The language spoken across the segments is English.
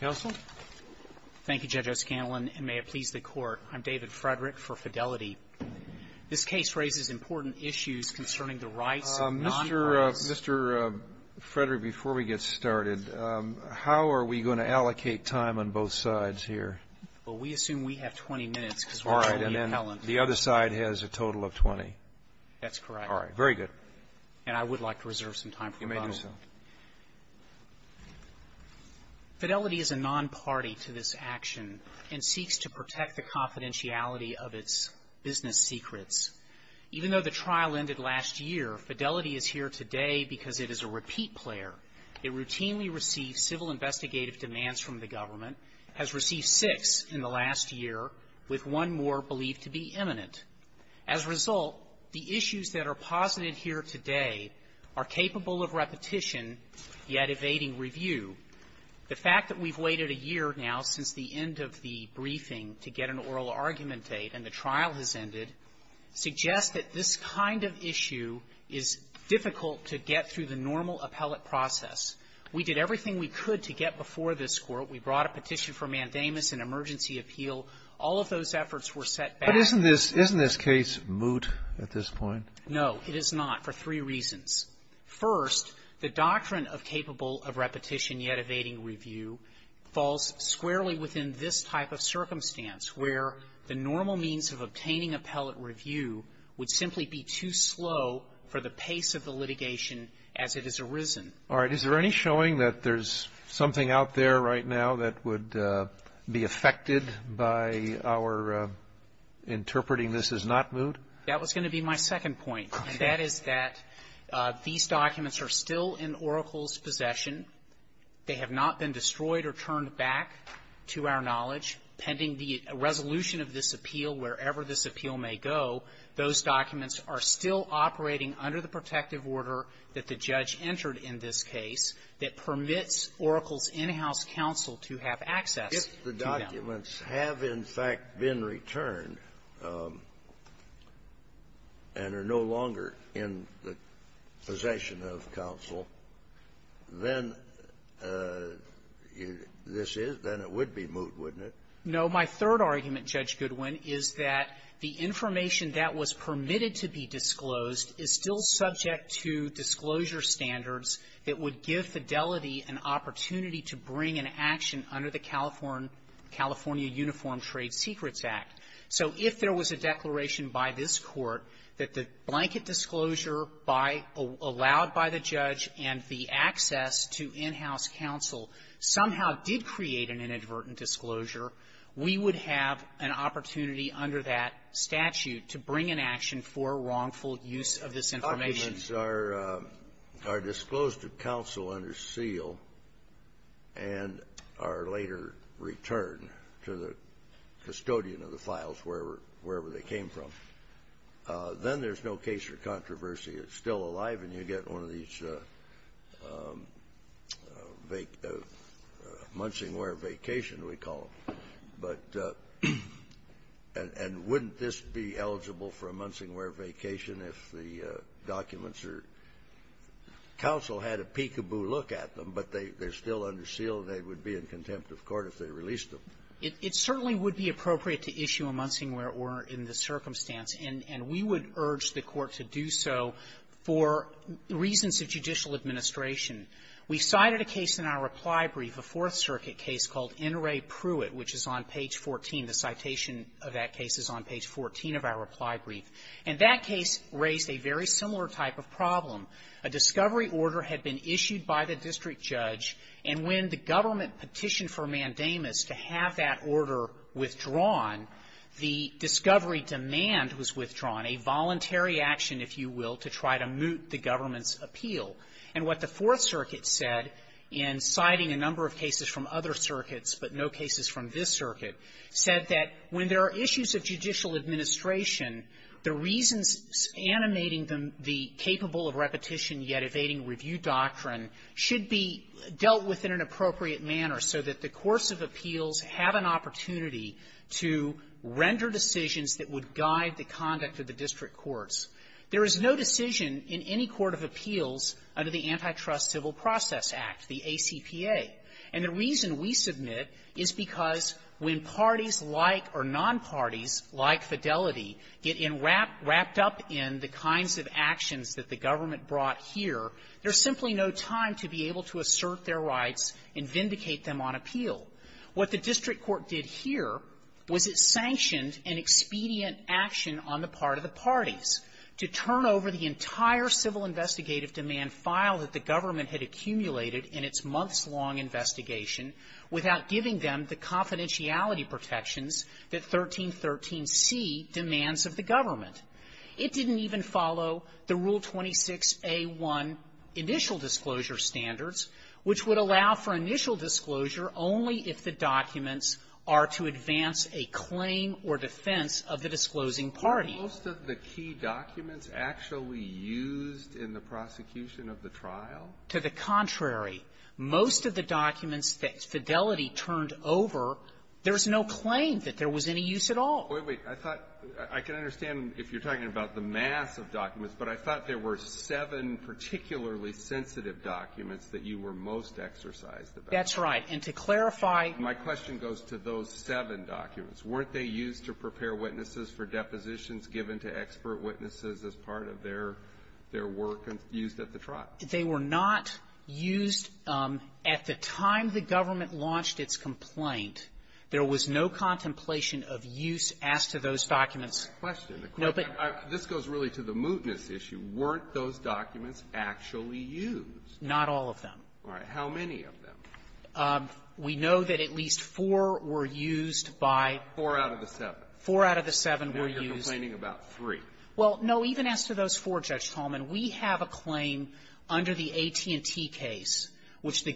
Counsel. Thank you, Judge O'Scanlan, and may it please the Court, I'm David Frederick for Fidelity. This case raises important issues concerning the rights of non-pros. Mr. Frederick, before we get started, how are we going to allocate time on both sides here? Well, we assume we have 20 minutes. All right. And then the other side has a total of 20. That's correct. All right. Very good. And I would like to reserve some time for rebuttal. You may do so. Fidelity is a non-party to this action and seeks to protect the confidentiality of its business secrets. Even though the trial ended last year, Fidelity is here today because it is a repeat player. It routinely receives civil investigative demands from the government, has received six in the last year, with one more believed to be imminent. As a result, the issues that are posited here today are capable of repetition, yet evading review. The fact that we've waited a year now since the end of the briefing to get an oral argument date and the trial has ended suggests that this kind of issue is difficult to get through the normal appellate process. We did everything we could to get before this Court. We brought a petition for mandamus and emergency appeal. All of those efforts were set back. Isn't this case moot at this point? No, it is not, for three reasons. First, the doctrine of capable of repetition, yet evading review, falls squarely within this type of circumstance, where the normal means of obtaining appellate review would simply be too slow for the pace of the litigation as it has arisen. All right. Is there any showing that there's something out there right now that would be affected by our interpreting this as not moot? That was going to be my second point, and that is that these documents are still in Oracle's possession. They have not been destroyed or turned back, to our knowledge. Pending the resolution of this appeal, wherever this appeal may go, those documents are still operating under the protective order that the judge entered in this case that permits Oracle's in-house counsel to have access to them. If the documents have, in fact, been returned and are no longer in the possession of counsel, then this is then it would be moot, wouldn't it? No. My third argument, Judge Goodwin, is that the information that was permitted to be disclosed is still subject to disclosure standards that would give Fidelity an opportunity to bring an action under the California Uniform Trade Secrets Act. So if there was a declaration by this Court that the blanket disclosure by allowed by the judge and the access to in-house counsel somehow did create an inadvertent disclosure, we would have an opportunity under that statute to bring an action for wrongful use of this information. If the documents are disclosed to counsel under seal and are later returned to the custodian of the files wherever they came from, then there's no case for controversy. It's still alive, and you get one of these munching-wear vacation, we call them. But and wouldn't this be eligible for a munching-wear vacation if the documents are counsel had a peek-a-boo look at them, but they're still under seal, and they would be in contempt of court if they released them? It certainly would be appropriate to issue a munching-wear order in this circumstance, and we would urge the Court to do so for reasons of judicial administration. We cited a case in our reply brief, a Fourth Circuit case called N. Ray Pruitt, which is on page 14. The citation of that case is on page 14 of our reply brief. And that case raised a very similar type of problem. A discovery order had been issued by the district judge, and when the government petitioned for mandamus to have that order withdrawn, the discovery demand was withdrawn, a voluntary action, if you will, to try to moot the government's appeal. And what the Fourth Circuit said in citing a number of cases from other circuits, but no cases from this circuit, said that when there are issues of judicial administration, the reasons animating the capable of repetition yet evading review doctrine should be dealt with in an appropriate manner so that the course of appeals have an opportunity to render decisions that would guide the conduct of the district courts. There is no decision in any court of appeals under the Antitrust Civil Process Act, the ACPA. And the reason we submit is because when parties like or nonparties like Fidelity get enwrapped up in the kinds of actions that the government brought here, they're simply no time to be able to assert their rights and vindicate them on appeal. What the district court did here was it sanctioned an expedient action on the part of the parties to turn over the entire civil investigative demand file that the government had accumulated in its months-long investigation without giving them the confidentiality protections that 1313c demands of the government. It didn't even follow the Rule 26a1 initial disclosure standards, which would allow for initial disclosure only if the documents are to advance a claim or defense of the disclosing party. Alitoso, the key documents actually used in the prosecution of the trial? To the contrary. Most of the documents that Fidelity turned over, there's no claim that there was any use at all. Wait, wait. I thought I can understand if you're talking about the mass of documents, but I thought there were seven particularly sensitive documents that you were most exercised about. That's right. And to clarify my question goes to those seven documents. Weren't they used to prepare witnesses for depositions given to expert witnesses as part of their work used at the trial? They were not used at the time the government launched its complaint. There was no contemplation of use as to those documents. Question. No, but the question. This goes really to the mootness issue. Weren't those documents actually used? Not all of them. All right. How many of them? We know that at least four were used by the attorney. Four out of the seven. Four out of the seven were used. Now you're complaining about three. Well, no. Even as to those four, Judge Talman, we have a claim under the AT&T case which the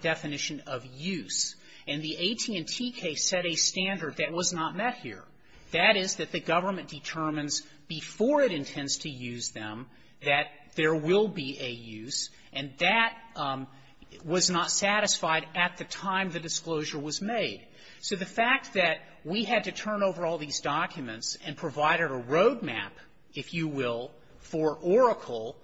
definition of use, and the AT&T case set a standard that was not met here. That is, that the government determines before it intends to use them that there will be a use, and that was not satisfied at the time the disclosure was made. So the fact that we had to turn over all these documents and provide a road map, if you will, for Oracle,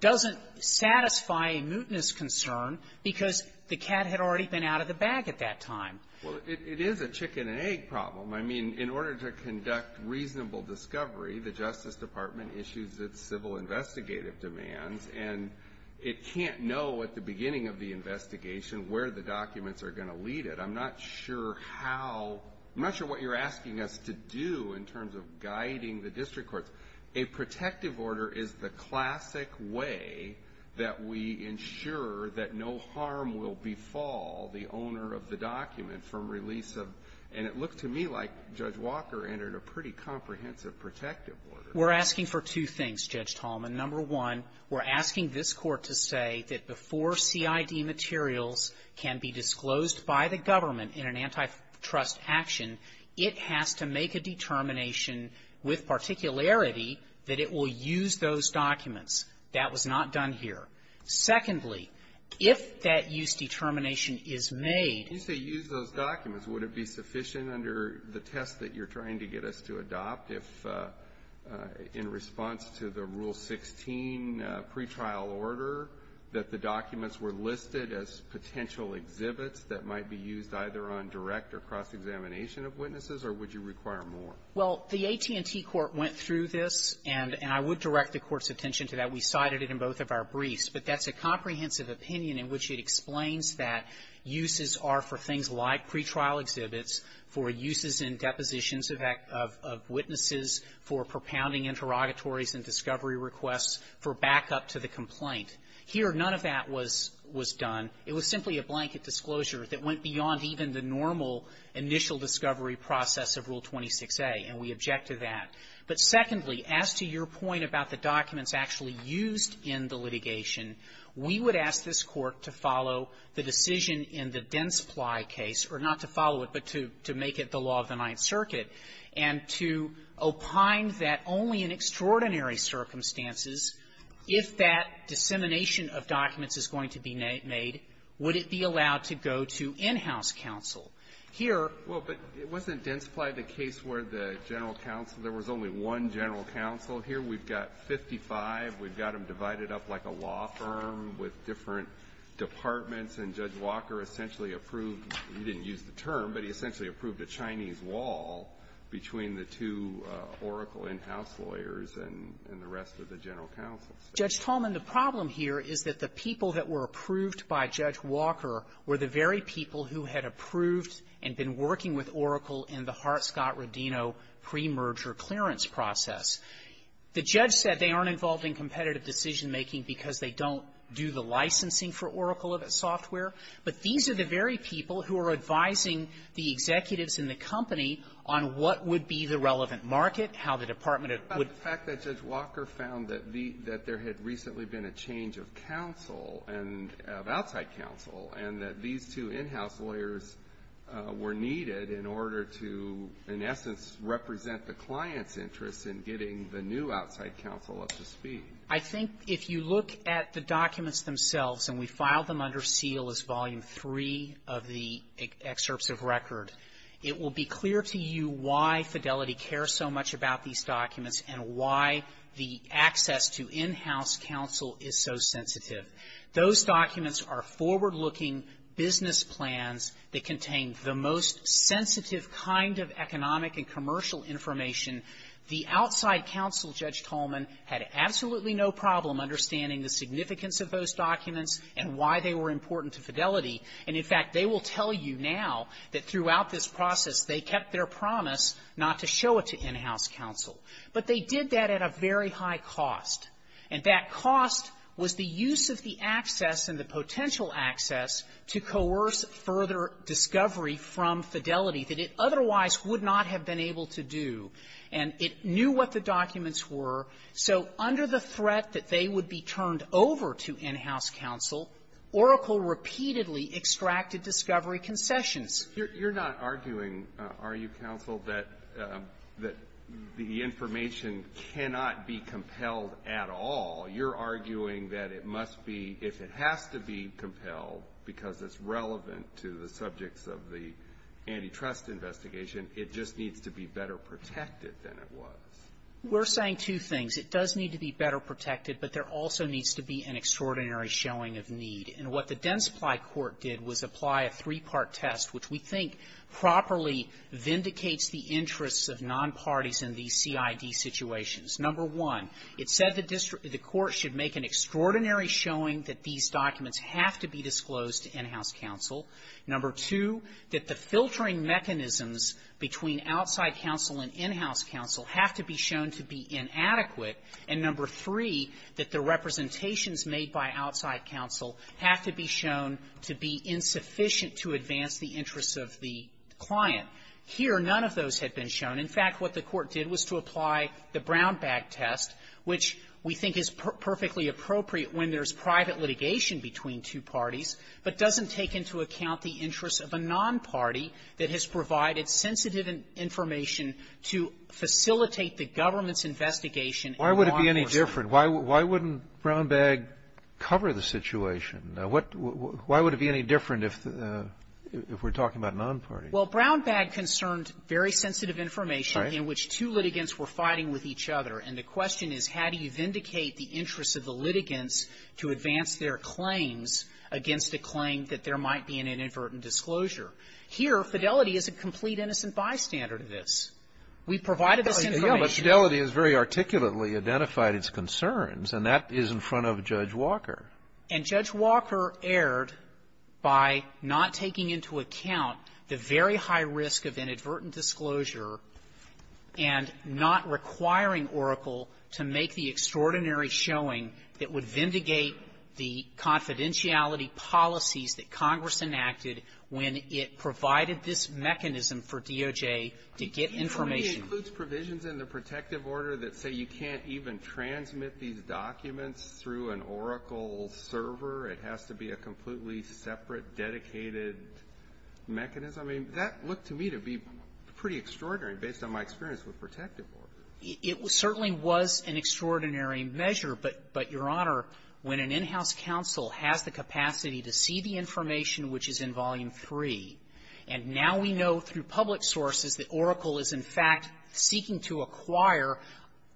doesn't satisfy a mootness concern because the cat had already been out of the bag at that time. Well, it is a chicken-and-egg problem. I mean, in order to conduct reasonable discovery, the Justice Department issues its civil investigative demands, and it can't know at the beginning of the investigation where the documents are going to lead it. I'm not sure how — I'm not sure what you're asking us to do in terms of guiding the district courts. A protective order is the classic way that we ensure that no harm will befall the owner of the document from release of — and it looked to me like Judge Walker entered a pretty comprehensive protective order. We're asking for two things, Judge Talman. Number one, we're asking this Court to say that before CID materials can be disclosed by the government in an antitrust action, it has to make a determination with particularity that it will use those documents. That was not done here. Secondly, if that use determination is made — Kennedy, you say use those documents. Would it be sufficient under the test that you're trying to get us to adopt, if in response to the Rule 16 pretrial order, that the documents were listed as potential exhibits that might be used either on direct or cross-examination of witnesses, or would you require more? Well, the AT&T Court went through this, and I would direct the Court's attention to that. We cited it in both of our briefs. But that's a comprehensive opinion in which it explains that uses are for things like pretrial exhibits, for uses in depositions of witnesses, for propounding interrogatories and discovery requests, for backup to the complaint. Here, none of that was done. It was simply a blanket disclosure that went beyond even the normal initial discovery process of Rule 26a, and we object to that. But secondly, as to your point about the documents actually used in the litigation, we would ask this Court to follow the decision in the Densply case, or not to follow it, but to make it the law of the Ninth Circuit, and to opine that only in extraordinary circumstances, if that dissemination of documents is going to be made, would it be Well, but it wasn't Densply the case where the general counsel – there was only one general counsel here. We've got 55. We've got them divided up like a law firm with different departments, and Judge Walker essentially approved – he didn't use the term, but he essentially approved a Chinese wall between the two Oracle in-house lawyers and the rest of the general counsels. Judge Tolman, the problem here is that the people that were approved by Judge Walker were the very people who had approved and been working with Oracle in the Hart-Scott-Rodino pre-merger clearance process. The judge said they aren't involved in competitive decision-making because they don't do the licensing for Oracle of its software, but these are the very people who are advising the executives in the company on what would be the relevant market, how the department would The fact that Judge Walker found that the – that there had recently been a change of counsel and – of outside counsel, and that these two in-house lawyers were needed in order to, in essence, represent the client's interests in getting the new outside counsel up to speed. I think if you look at the documents themselves, and we file them under seal as Volume 3 of the excerpts of record, it will be clear to you why Fidelity cares so much about these documents and why the access to in-house counsel is so sensitive. Those documents are forward-looking business plans that contain the most sensitive kind of economic and commercial information. The outside counsel, Judge Tolman, had absolutely no problem understanding the significance of those documents and why they were important to Fidelity. And, in fact, they will tell you now that throughout this process they kept their But they did that at a very high cost. And that cost was the use of the access and the potential access to coerce further discovery from Fidelity that it otherwise would not have been able to do. And it knew what the documents were. So under the threat that they would be turned over to in-house counsel, Oracle repeatedly extracted discovery concessions. You're not arguing, are you, counsel, that the information cannot be compelled at all? You're arguing that it must be, if it has to be compelled because it's relevant to the subjects of the antitrust investigation, it just needs to be better protected than it was. We're saying two things. It does need to be better protected, but there also needs to be an extraordinary showing of need. And what the Densply Court did was apply a three-part test, which we think properly vindicates the interests of nonparties in these CID situations. Number one, it said the court should make an extraordinary showing that these documents have to be disclosed to in-house counsel. Number two, that the filtering mechanisms between outside counsel and in-house counsel have to be shown to be inadequate. And number three, that the representations made by outside counsel have to be shown to be insufficient to advance the interests of the client. Here, none of those had been shown. In fact, what the Court did was to apply the Brownback test, which we think is perfectly appropriate when there's private litigation between two parties, but doesn't take into account the interests of a nonparty that has provided sensitive information to facilitate the government's investigation in law enforcement. Kennedy. Why would it be any different? Why wouldn't Brownback cover the situation? Why would it be any different if we're talking about nonparties? Well, Brownback concerned very sensitive information in which two litigants were fighting with each other. And the question is, how do you vindicate the interests of the litigants to advance their claims against a claim that there might be an inadvertent disclosure? Here, Fidelity is a complete innocent bystander to this. We provided this information. But Fidelity has very articulately identified its concerns. And that is in front of Judge Walker. And Judge Walker erred by not taking into account the very high risk of inadvertent disclosure and not requiring Oracle to make the extraordinary showing that would It provided this mechanism for DOJ to get information. It only includes provisions in the protective order that say you can't even transmit these documents through an Oracle server. It has to be a completely separate, dedicated mechanism. I mean, that looked to me to be pretty extraordinary, based on my experience with protective orders. It certainly was an extraordinary measure. But, Your Honor, when an in-house counsel has the capacity to see the information which is in Volume 3, and now we know through public sources that Oracle is, in fact, seeking to acquire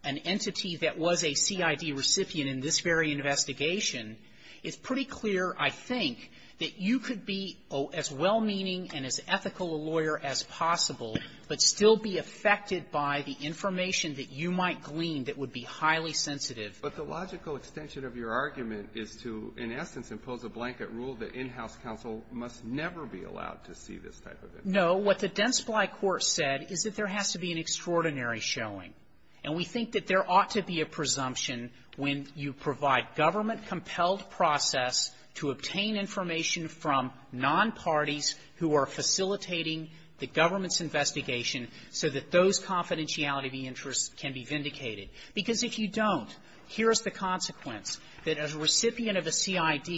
an entity that was a CID recipient in this very investigation, it's pretty clear, I think, that you could be as well-meaning and as ethical a lawyer as possible, but still be affected by the information that you might glean that would be highly sensitive. But the logical extension of your argument is to, in essence, impose a blanket rule that in-house counsel must never be allowed to see this type of information. No. What the Densply court said is that there has to be an extraordinary showing. And we think that there ought to be a presumption when you provide government-compelled process to obtain information from nonparties who are facilitating the government's investigation so that those confidentiality of the interest can be vindicated. Because if you don't, here is the consequence, that a recipient of a CID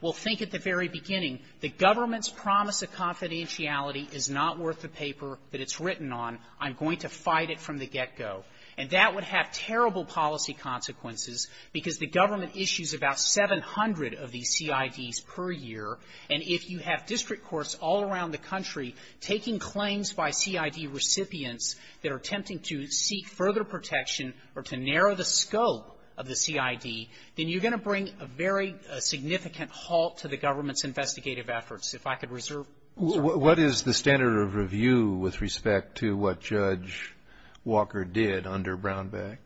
will think at the very beginning, the government's promise of confidentiality is not worth the paper that it's written on. I'm going to fight it from the get-go. And that would have terrible policy consequences, because the government issues about 700 of these CIDs per year. And if you have district courts all around the country taking claims by CID recipients that are attempting to seek further protection or to narrow the scope of the CID, then you're going to bring a very significant halt to the government's investigative efforts. If I could reserve the floor. Kennedy. What is the standard of review with respect to what Judge Walker did under Brownback?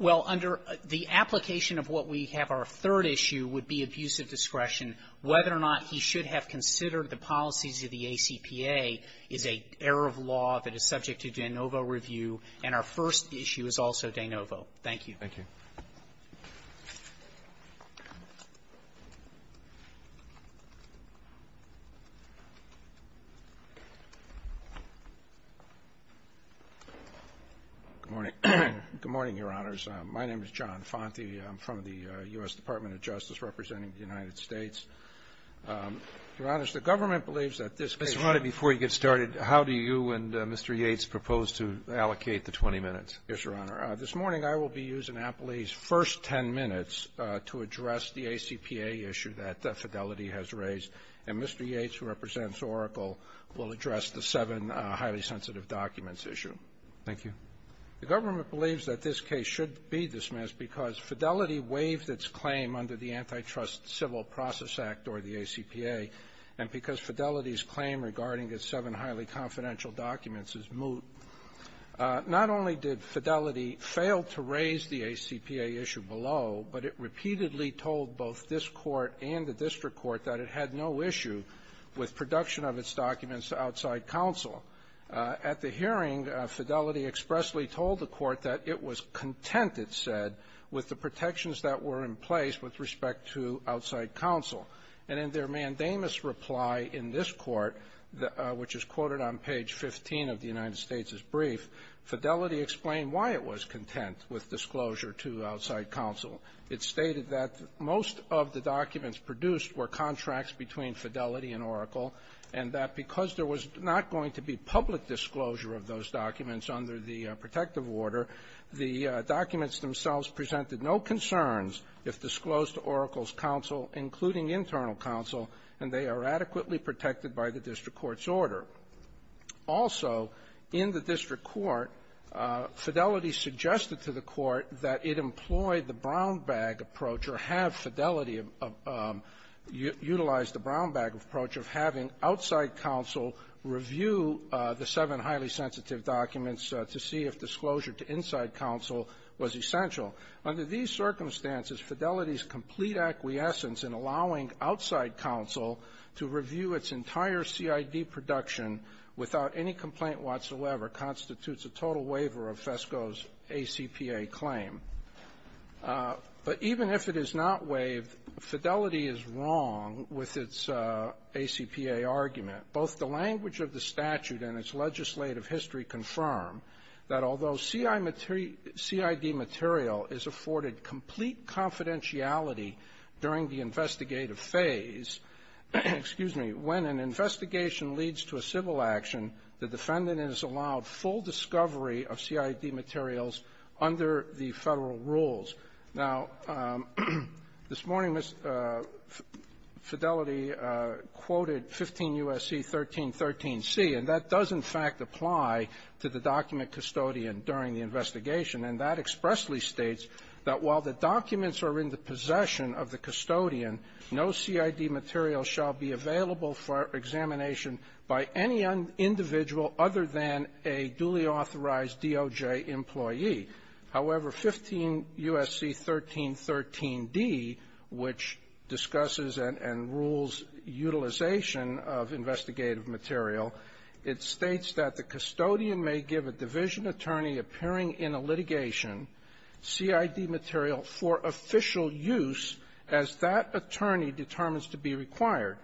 Well, under the application of what we have, our third issue would be abusive discretion. Whether or not he should have considered the policies of the ACPA is an error of law that is subject to de novo review. And our first issue is also de novo. Thank you. Thank you. Good morning. Good morning, Your Honors. My name is John Fonte. I'm from the U.S. Department of Justice, representing the United States. Your Honors, the government believes that this case ---- Mr. Rennie, before you get started, how do you and Mr. Yates propose to allocate the 20 minutes? Yes, Your Honor. This morning, I will be using Appley's first 10 minutes to address the ACPA issue that Fidelity has raised. And Mr. Yates, who represents Oracle, will address the seven highly sensitive documents issue. Thank you. The government believes that this case should be dismissed because Fidelity waived its claim under the Antitrust Civil Process Act, or the ACPA, and because Fidelity's claim regarding its seven highly confidential documents is moot. Not only did Fidelity fail to raise the ACPA issue below, but it repeatedly told both this Court and the district court that it had no issue with production of its documents to outside counsel. At the hearing, Fidelity expressly told the court that it was content, it said, with the protections that were in place with respect to outside counsel. And in their mandamus reply in this court, which is quoted on page 15 of the United States Court of Appeal, Fidelity explained why it was content with disclosure to outside counsel. It stated that most of the documents produced were contracts between Fidelity and Oracle, and that because there was not going to be public disclosure of those documents under the protective order, the documents themselves presented no concerns if disclosed to Oracle's counsel, including internal counsel, and they are adequately protected by the district court's order. Also, in the district court, Fidelity suggested to the court that it employed the brown-bag approach or have Fidelity utilize the brown-bag approach of having outside counsel review the seven highly sensitive documents to see if disclosure to inside counsel was essential. Under these circumstances, Fidelity's complete acquiescence in allowing outside counsel to review its entire CID production without any complaint whatsoever constitutes a total waiver of FESCO's ACPA claim. But even if it is not waived, Fidelity is wrong with its ACPA argument. Both the language of the statute and its legislative history confirm that although the CID material is afforded complete confidentiality during the investigative phase, excuse me, when an investigation leads to a civil action, the defendant is allowed full discovery of CID materials under the Federal rules. Now, this morning, Fidelity quoted 15 U.S.C. 1313C, and that does, in fact, apply to the document custodian during the investigation. And that expressly states that while the documents are in the possession of the custodian, no CID material shall be available for examination by any individual other than a duly authorized DOJ employee. However, 15 U.S.C. 1313D, which discusses and rules utilization of investigative material, it states that the custodian may give a division attorney appearing in a litigation CID material for official use as that attorney determines to be required.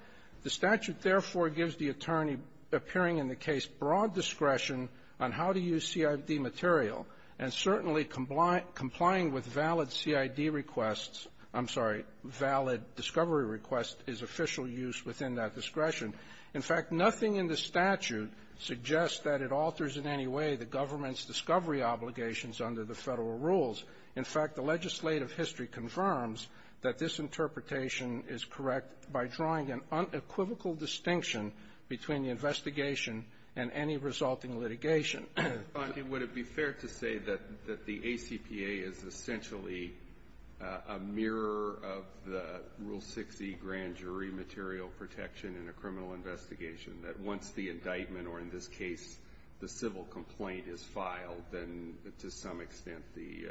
The statute, therefore, gives the attorney appearing in the case broad discretion on how to use CID material, and certainly complying with valid CID requests I'm sorry, valid discovery requests is official use within that discretion. In fact, nothing in the statute suggests that it alters in any way the government's discovery obligations under the Federal rules. In fact, the legislative history confirms that this interpretation is correct by drawing an unequivocal distinction between the investigation and any resulting litigation. Would it be fair to say that the ACPA is essentially a mirror of the Rule 60 grand jury material protection in a criminal investigation, that once the indictment, or in this case, the civil complaint is filed, then to some extent the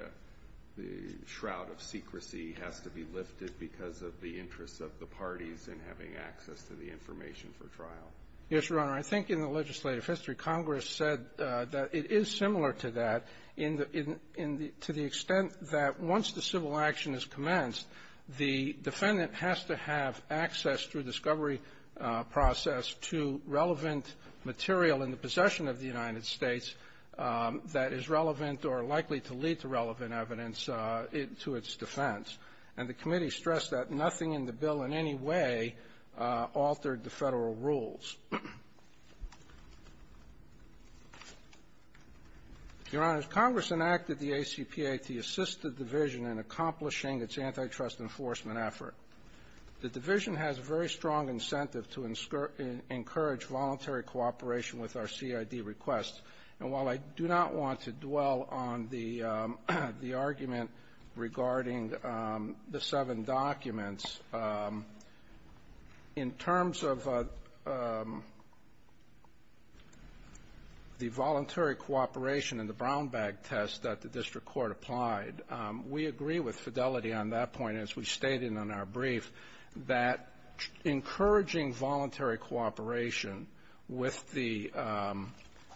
shroud of secrecy has to be lifted because of the interests of the parties in having access to the information for trial? Yes, Your Honor. I think in the legislative history, Congress said that it is similar to that in the to the extent that once the civil action is commenced, the defendant has to have access through discovery process to relevant material in the possession of the United States that is relevant or likely to lead to relevant evidence to its defense. And the committee stressed that nothing in the bill in any way altered the rules. Your Honor, as Congress enacted the ACPA to assist the division in accomplishing its antitrust enforcement effort, the division has very strong incentive to encourage voluntary cooperation with our CID requests. And while I do not want to dwell on the argument regarding the seven documents, in terms of the voluntary cooperation in the brown bag test that the district court applied, we agree with Fidelity on that point, as we stated in our brief, that encouraging voluntary cooperation with the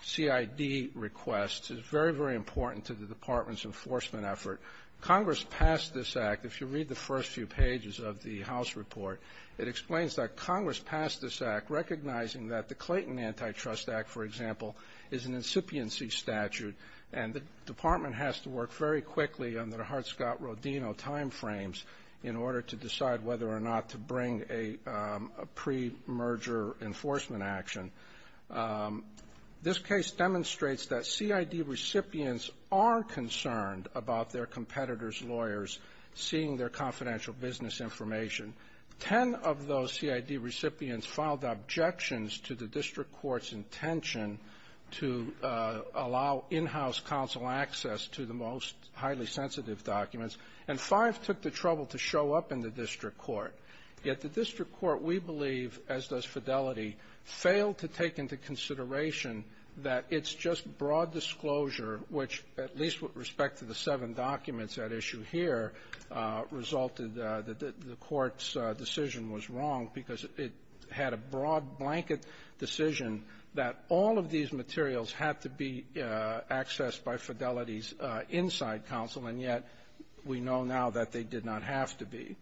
CID requests is very, very important to the Department's enforcement effort. Congress passed this Act. If you read the first few pages of the House report, it explains that Congress passed this Act recognizing that the Clayton Antitrust Act, for example, is an incipiency statute, and the Department has to work very quickly under the Hart-Scott-Rodino time frames in order to decide whether or not to bring a pre-merger enforcement action. This case demonstrates that CID recipients are concerned about their competitors' lawyers seeing their confidential business information. Ten of those CID recipients filed objections to the district court's intention to allow in-house counsel access to the most highly sensitive documents, and five took the trouble to show up in the district court. Yet the district court, we believe, as does Fidelity, failed to take into consideration that it's just broad disclosure, which, at least with respect to the seven documents at issue here, resulted that the court's decision was wrong because it had a broad blanket decision that all of these materials had to be accessed by Fidelity's inside counsel, and yet we know now that they did not have to be.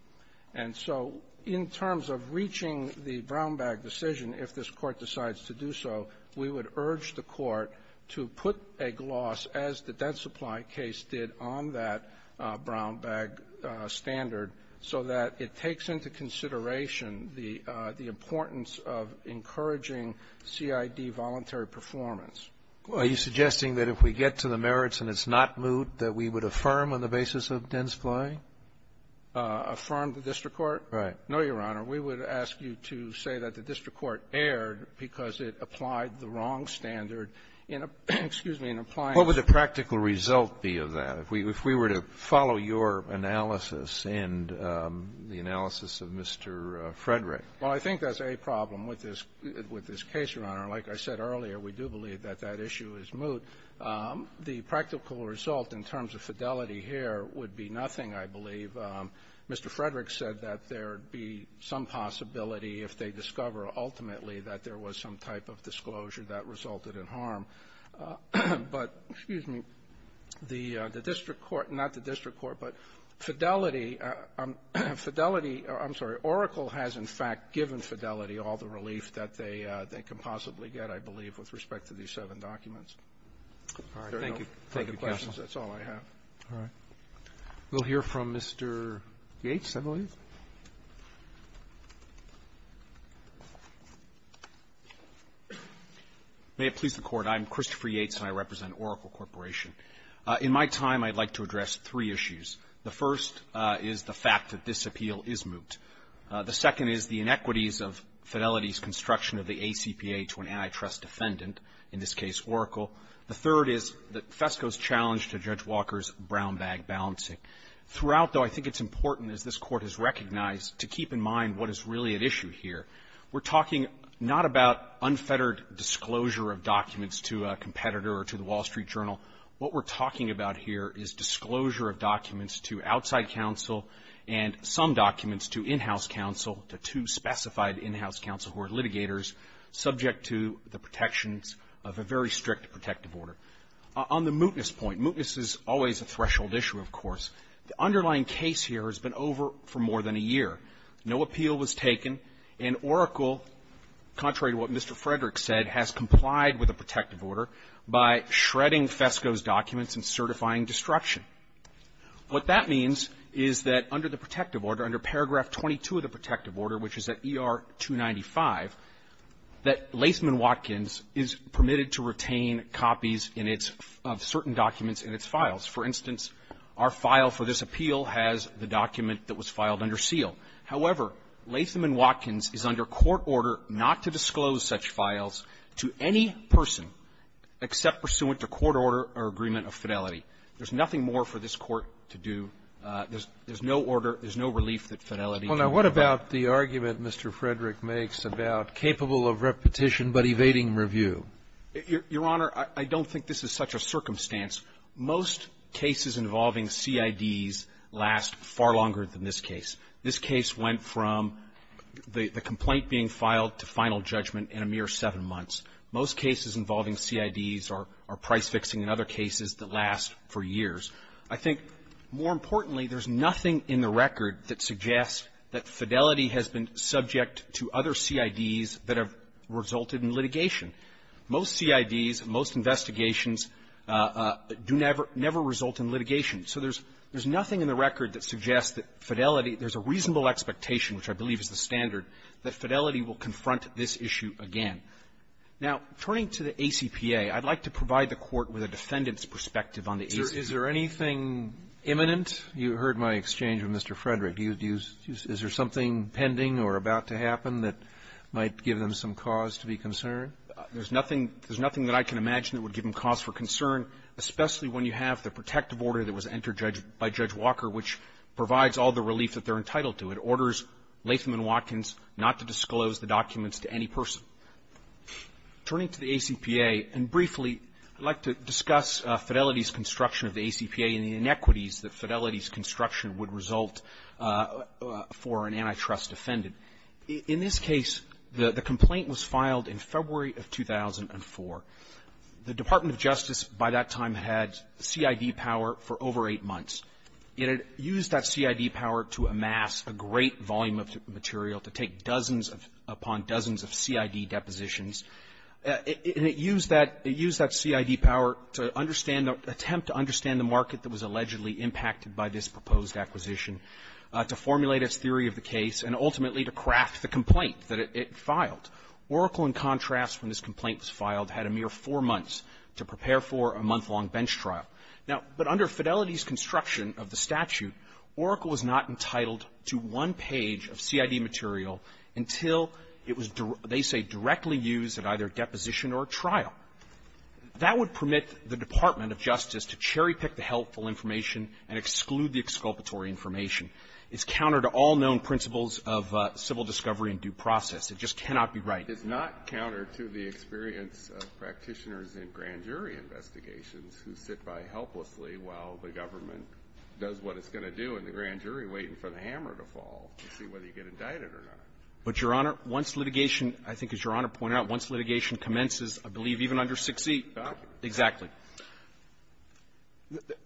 And so in terms of reaching the brown bag decision, if this court decides to do so, we would urge the court to put a gloss, as the debt supply case did on that brown bag standard, so that it takes into consideration the importance of encouraging CID voluntary performance. Are you suggesting that if we get to the merits and it's not moot, that we would affirm on the basis of dense flying? Affirm the district court? Right. No, Your Honor. We would ask you to say that the district court erred because it applied the wrong standard in a -- excuse me, in applying the ---- What would the practical result be of that? If we were to follow your analysis and the analysis of Mr. Frederick? Well, I think that's a problem with this case, Your Honor. Like I said earlier, we do believe that that issue is moot. The practical result in terms of Fidelity here would be nothing, I believe. Mr. Frederick said that there would be some possibility if they discover ultimately that there was some type of disclosure that resulted in harm. But, excuse me, the district court, not the district court, but Fidelity, Fidelity or, I'm sorry, Oracle has, in fact, given Fidelity all the relief that they can possibly get, I believe, with respect to these seven documents. All right. Thank you. Thank you, counsel. That's all I have. All right. We'll hear from Mr. Yates, I believe. May it please the Court. I'm Christopher Yates, and I represent Oracle Corporation. In my time, I'd like to address three issues. The first is the fact that this appeal is moot. The second is the inequities of Fidelity's construction of the ACPA to an antitrust defendant, in this case Oracle. The third is FESCO's challenge to Judge Walker's brown bag balancing. Throughout, though, I think it's important, as this Court has recognized, to keep in mind what is really at issue here. We're talking not about unfettered disclosure of documents to a competitor or to the Wall Street Journal. What we're talking about here is disclosure of documents to outside counsel and some documents to in-house counsel, to two specified in-house counsel who are litigators, subject to the protections of a very strict protective order. On the mootness point, mootness is always a threshold issue, of course. The underlying case here has been over for more than a year. No appeal was taken, and Oracle, contrary to what Mr. Frederick said, has complied with a protective order by shredding FESCO's documents and certifying destruction. What that means is that under the protective order, under paragraph 22 of the protective order, which is at ER 295, that Latham & Watkins is permitted to retain copies in its – of certain documents in its files. For instance, our file for this appeal has the document that was filed under seal. However, Latham & Watkins is under court order not to disclose such files to any person except pursuant to court order or agreement of fidelity. There's nothing more for this Court to do. There's no order. There's no relief that Fidelity can provide. Roberts. Well, now, what about the argument Mr. Frederick makes about capable of repetition but evading review? Your Honor, I don't think this is such a circumstance. Most cases involving CIDs last far longer than this case. This case went from the complaint being filed to final judgment in a mere seven months. Most cases involving CIDs are price-fixing in other cases that last for years. I think, more importantly, there's nothing in the record that suggests that Fidelity has been subject to other CIDs that have resulted in litigation. Most CIDs, most investigations do never – never result in litigation. So there's – there's nothing in the record that suggests that Fidelity – there's a reasonable expectation, which I believe is the standard, that Fidelity will confront this issue again. Now, turning to the ACPA, I'd like to provide the Court with a defendant's perspective on the ACPA. Roberts. Is there anything imminent? You heard my exchange with Mr. Frederick. Do you – is there something pending or about to happen that might give them some cause to be concerned? There's nothing – there's nothing that I can imagine that would give them cause for concern, especially when you have the protective order that was entered by Judge Walker, which provides all the relief that they're entitled to. It orders Latham and Watkins not to disclose the documents to any person. Turning to the ACPA, and briefly, I'd like to discuss Fidelity's construction of the ACPA and the inequities that Fidelity's construction would result for an antitrust defendant. In this case, the complaint was filed in February of 2004. The Department of Justice, by that time, had CID power for over eight months. It had used that CID power to amass a great volume of material, to take dozens upon dozens of CID depositions. And it used that – it used that CID power to understand the – attempt to understand the market that was allegedly impacted by this proposed acquisition, to formulate its theory of the case, and ultimately to craft the complaint that it filed. Oracle, in contrast, when this complaint was filed, had a mere four months to prepare for a month-long bench trial. Now – but under Fidelity's construction of the statute, Oracle was not entitled to one page of CID material until it was, they say, directly used at either a deposition or a trial. That would permit the Department of Justice to cherry-pick the helpful information and exclude the exculpatory information. It's counter to all known principles of civil discovery and due process. It just cannot be right. It's not counter to the experience of practitioners in grand jury investigations who sit by helplessly while the government does what it's going to do in the grand jury, waiting for the hammer to fall to see whether you get indicted or not. But, Your Honor, once litigation – I think, as Your Honor pointed out, once litigation commences, I believe even under 6E… Exactly. Exactly.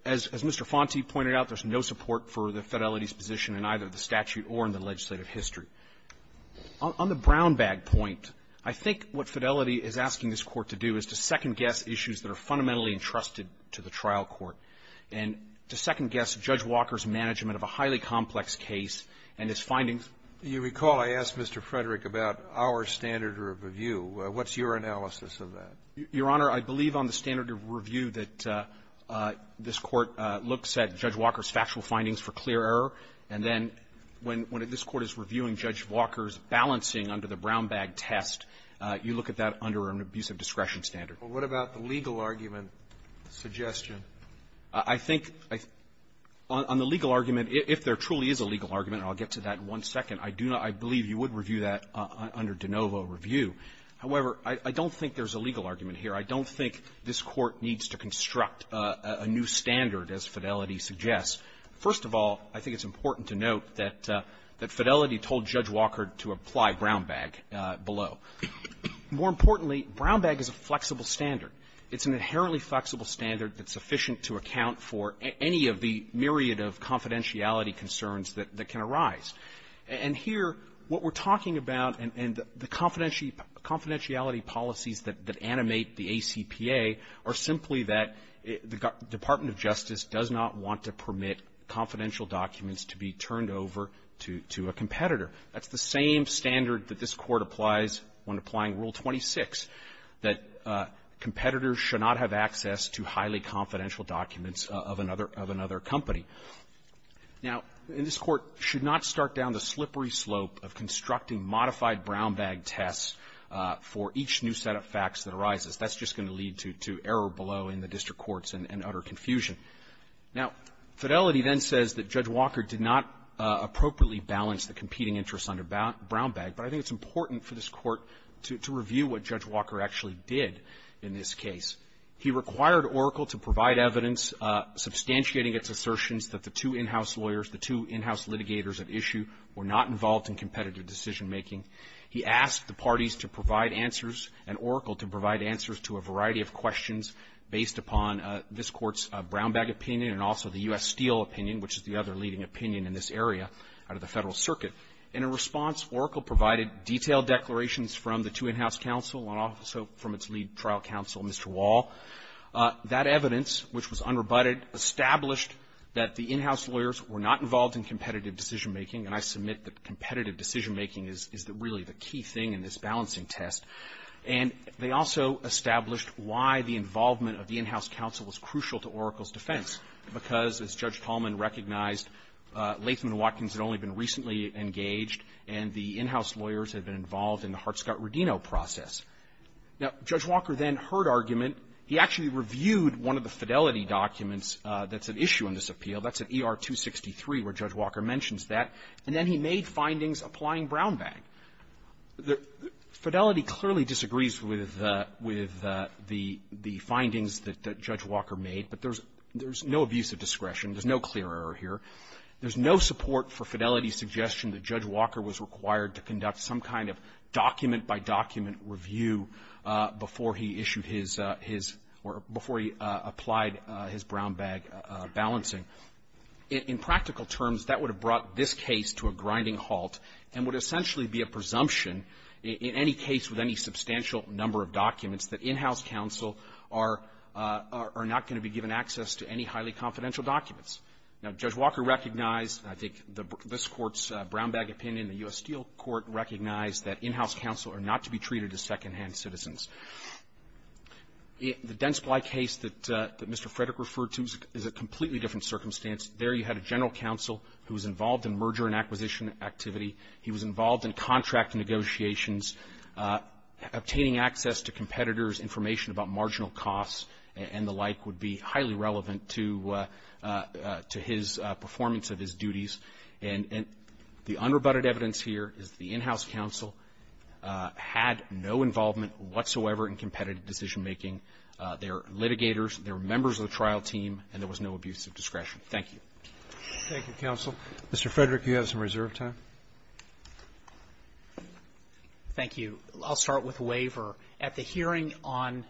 As Mr. Fonte pointed out, there's no support for the Fidelity's position in either the statute or in the legislative history. On the brown-bag point, I think what Fidelity is asking this Court to do is to second-guess issues that are fundamentally entrusted to the trial court and to second-guess Judge Walker's management of a highly complex case and its findings. You recall I asked Mr. Frederick about our standard of review. What's your analysis of that? Your Honor, I believe on the standard of review that this Court looks at Judge Walker's balancing under the brown-bag test, you look at that under an abusive discretion standard. But what about the legal argument suggestion? I think on the legal argument, if there truly is a legal argument, and I'll get to that in one second, I do not – I believe you would review that under de novo review. However, I don't think there's a legal argument here. I don't think this Court needs to construct a new standard, as Fidelity suggests. First of all, I think it's important to note that Fidelity told Judge Walker to apply brown-bag below. More importantly, brown-bag is a flexible standard. It's an inherently flexible standard that's sufficient to account for any of the myriad of confidentiality concerns that can arise. And here, what we're talking about and the confidentiality policies that animate the ACPA are simply that the Department of Justice does not want to permit confidential documents to be turned over to a competitor. That's the same standard that this Court applies when applying Rule 26, that competitors should not have access to highly confidential documents of another company. Now, this Court should not start down the slippery slope of constructing modified brown-bag tests for each new set of facts that arises. That's just going to lead to error below in the district courts and utter confusion. Now, Fidelity then says that Judge Walker did not appropriately balance the competing interests under brown-bag, but I think it's important for this Court to review what Judge Walker actually did in this case. He required Oracle to provide evidence substantiating its assertions that the two in-house lawyers, the two in-house litigators at issue were not involved in competitive decision-making. He asked the parties to provide answers and Oracle to provide answers to a variety of questions based upon this Court's brown-bag opinion and also the U.S. Steel opinion, which is the other leading opinion in this area out of the Federal Circuit. In a response, Oracle provided detailed declarations from the two in-house counsel and also from its lead trial counsel, Mr. Wall. That evidence, which was unrebutted, established that the in-house lawyers were not involved in competitive decision-making. And I submit that competitive decision-making is really the key thing in this balancing test. And they also established why the involvement of the in-house counsel was crucial to Oracle's defense, because, as Judge Tallman recognized, Latham and Watkins had only been recently engaged, and the in-house lawyers had been involved in the Hart-Scott-Rodino process. Now, Judge Walker then heard argument. He actually reviewed one of the Fidelity documents that's at issue in this appeal. That's at ER-263, where Judge Walker mentions that. And then he made findings applying brown-bag. Fidelity clearly disagrees with the findings that Judge Walker made, but there's no abuse of discretion. There's no clear error here. There's no support for Fidelity's suggestion that Judge Walker was required to conduct some kind of document-by-document review before he issued his or before he applied his brown-bag balancing. In practical terms, that would have brought this case to a grinding halt and would essentially be a presumption in any case with any substantial number of documents that in-house counsel are not going to be given access to any highly confidential documents. Now, Judge Walker recognized, and I think this Court's brown-bag opinion, the U.S. Steel Court recognized, that in-house counsel are not to be treated as secondhand citizens. The Densply case that Mr. Frederick referred to is a completely different circumstance. There you had a general counsel who was involved in merger and acquisition activity. He was involved in contract negotiations. Obtaining access to competitors' information about marginal costs and the like would be highly relevant to his performance of his duties. And the unrebutted evidence here is the in-house counsel had no involvement whatsoever in competitive decision-making. They were litigators. They were members of the trial team. And there was no abuse of discretion. Thank you. Roberts. Thank you, counsel. Mr. Frederick, you have some reserve time. Thank you. I'll start with waiver. At the hearing on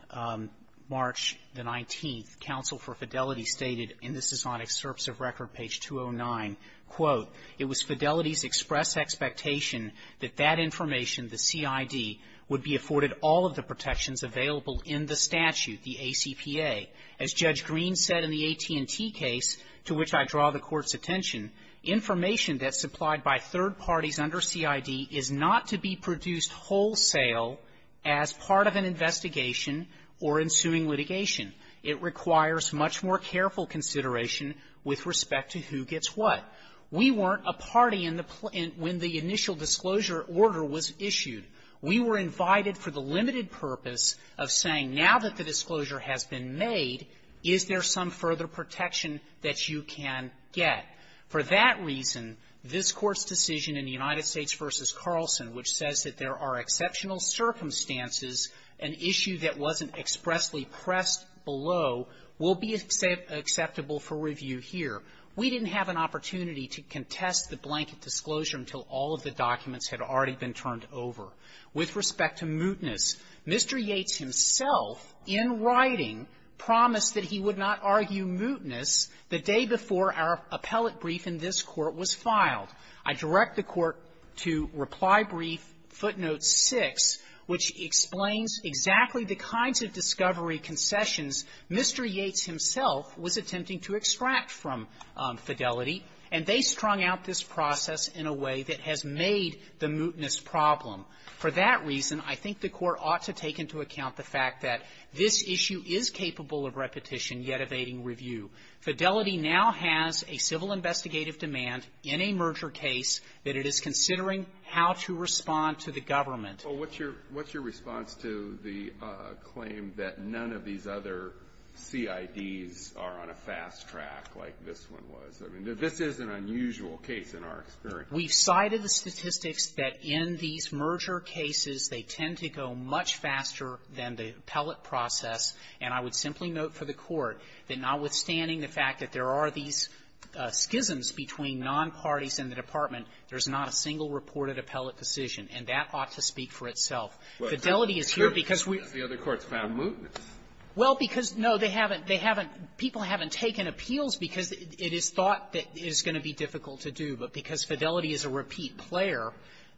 March the 19th, counsel for Fidelity stated, and this is on excerpts of record, page 209, quote, It was Fidelity's express expectation that that information, the CID, would be afforded all of the protections available in the statute, the ACPA. As Judge Green said in the AT&T case, to which I draw the Court's attention, information that's supplied by third parties under CID is not to be produced wholesale as part of an investigation or ensuing litigation. It requires much more careful consideration with respect to who gets what. We weren't a party in the pl -- when the initial disclosure order was issued. We were invited for the limited purpose of saying, now that the disclosure has been made, is there some further protection that you can get? For that reason, this Court's decision in the United States v. Carlson, which says that there are exceptional circumstances, an issue that wasn't expressly pressed below, will be acceptable for review here. We didn't have an opportunity to contest the blanket disclosure until all of the documents had already been turned over. With respect to mootness, Mr. Yates himself in writing promised that he would not argue mootness the day before our appellate brief in this Court was filed. I direct the Court to Reply Brief footnote 6, which explains exactly the kinds of discovery concessions Mr. Yates himself was attempting to extract from Fidelity. And they strung out this process in a way that has made the mootness problem. For that reason, I think the Court ought to take into account the fact that this issue is capable of repetition, yet evading review. Fidelity now has a civil investigative demand in a merger case that it is considering how to respond to the government. Alitoso, what's your response to the claim that none of these other CIDs are on a FAFSA fast track like this one was? I mean, this is an unusual case in our experience. We've cited the statistics that in these merger cases, they tend to go much faster than the appellate process, and I would simply note for the Court that notwithstanding the fact that there are these schisms between nonparties in the department, there's not a single reported appellate decision. And that ought to speak for itself. Fidelity is here because we — The other courts found mootness. Well, because, no, they haven't — they haven't — people haven't taken appeals because it is thought that it is going to be difficult to do. But because Fidelity is a repeat player,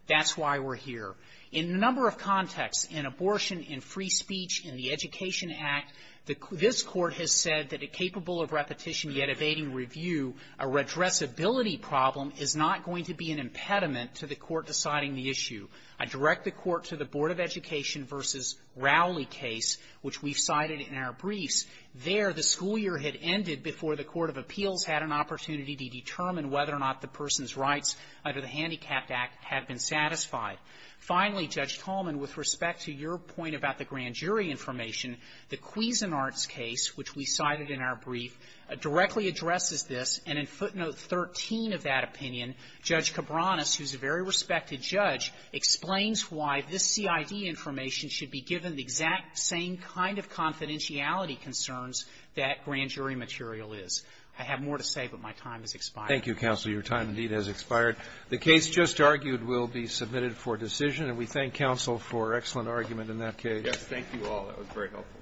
that's why we're here. In a number of contexts, in abortion, in free speech, in the Education Act, the — this Court has said that a capable of repetition, yet evading review, a redressability problem is not going to be an impediment to the Court deciding the issue. I direct the Court to the Board of Education versus Rowley case, which we've cited in our briefs. There, the school year had ended before the Court of Appeals had an opportunity to determine whether or not the person's rights under the Handicapped Act had been satisfied. Finally, Judge Tallman, with respect to your point about the grand jury information, the Cuisinart's case, which we cited in our brief, directly addresses this, and in footnote 13 of that opinion, Judge Cabranes, who's a very respected judge, explains why this CID information should be given the exact same kind of confidentiality concerns that grand jury material is. I have more to say, but my time has expired. Roberts. Thank you, counsel. Your time, indeed, has expired. The case just argued will be submitted for decision. And we thank counsel for excellent argument in that case. Roberts. Yes. Thank you all. That was very helpful.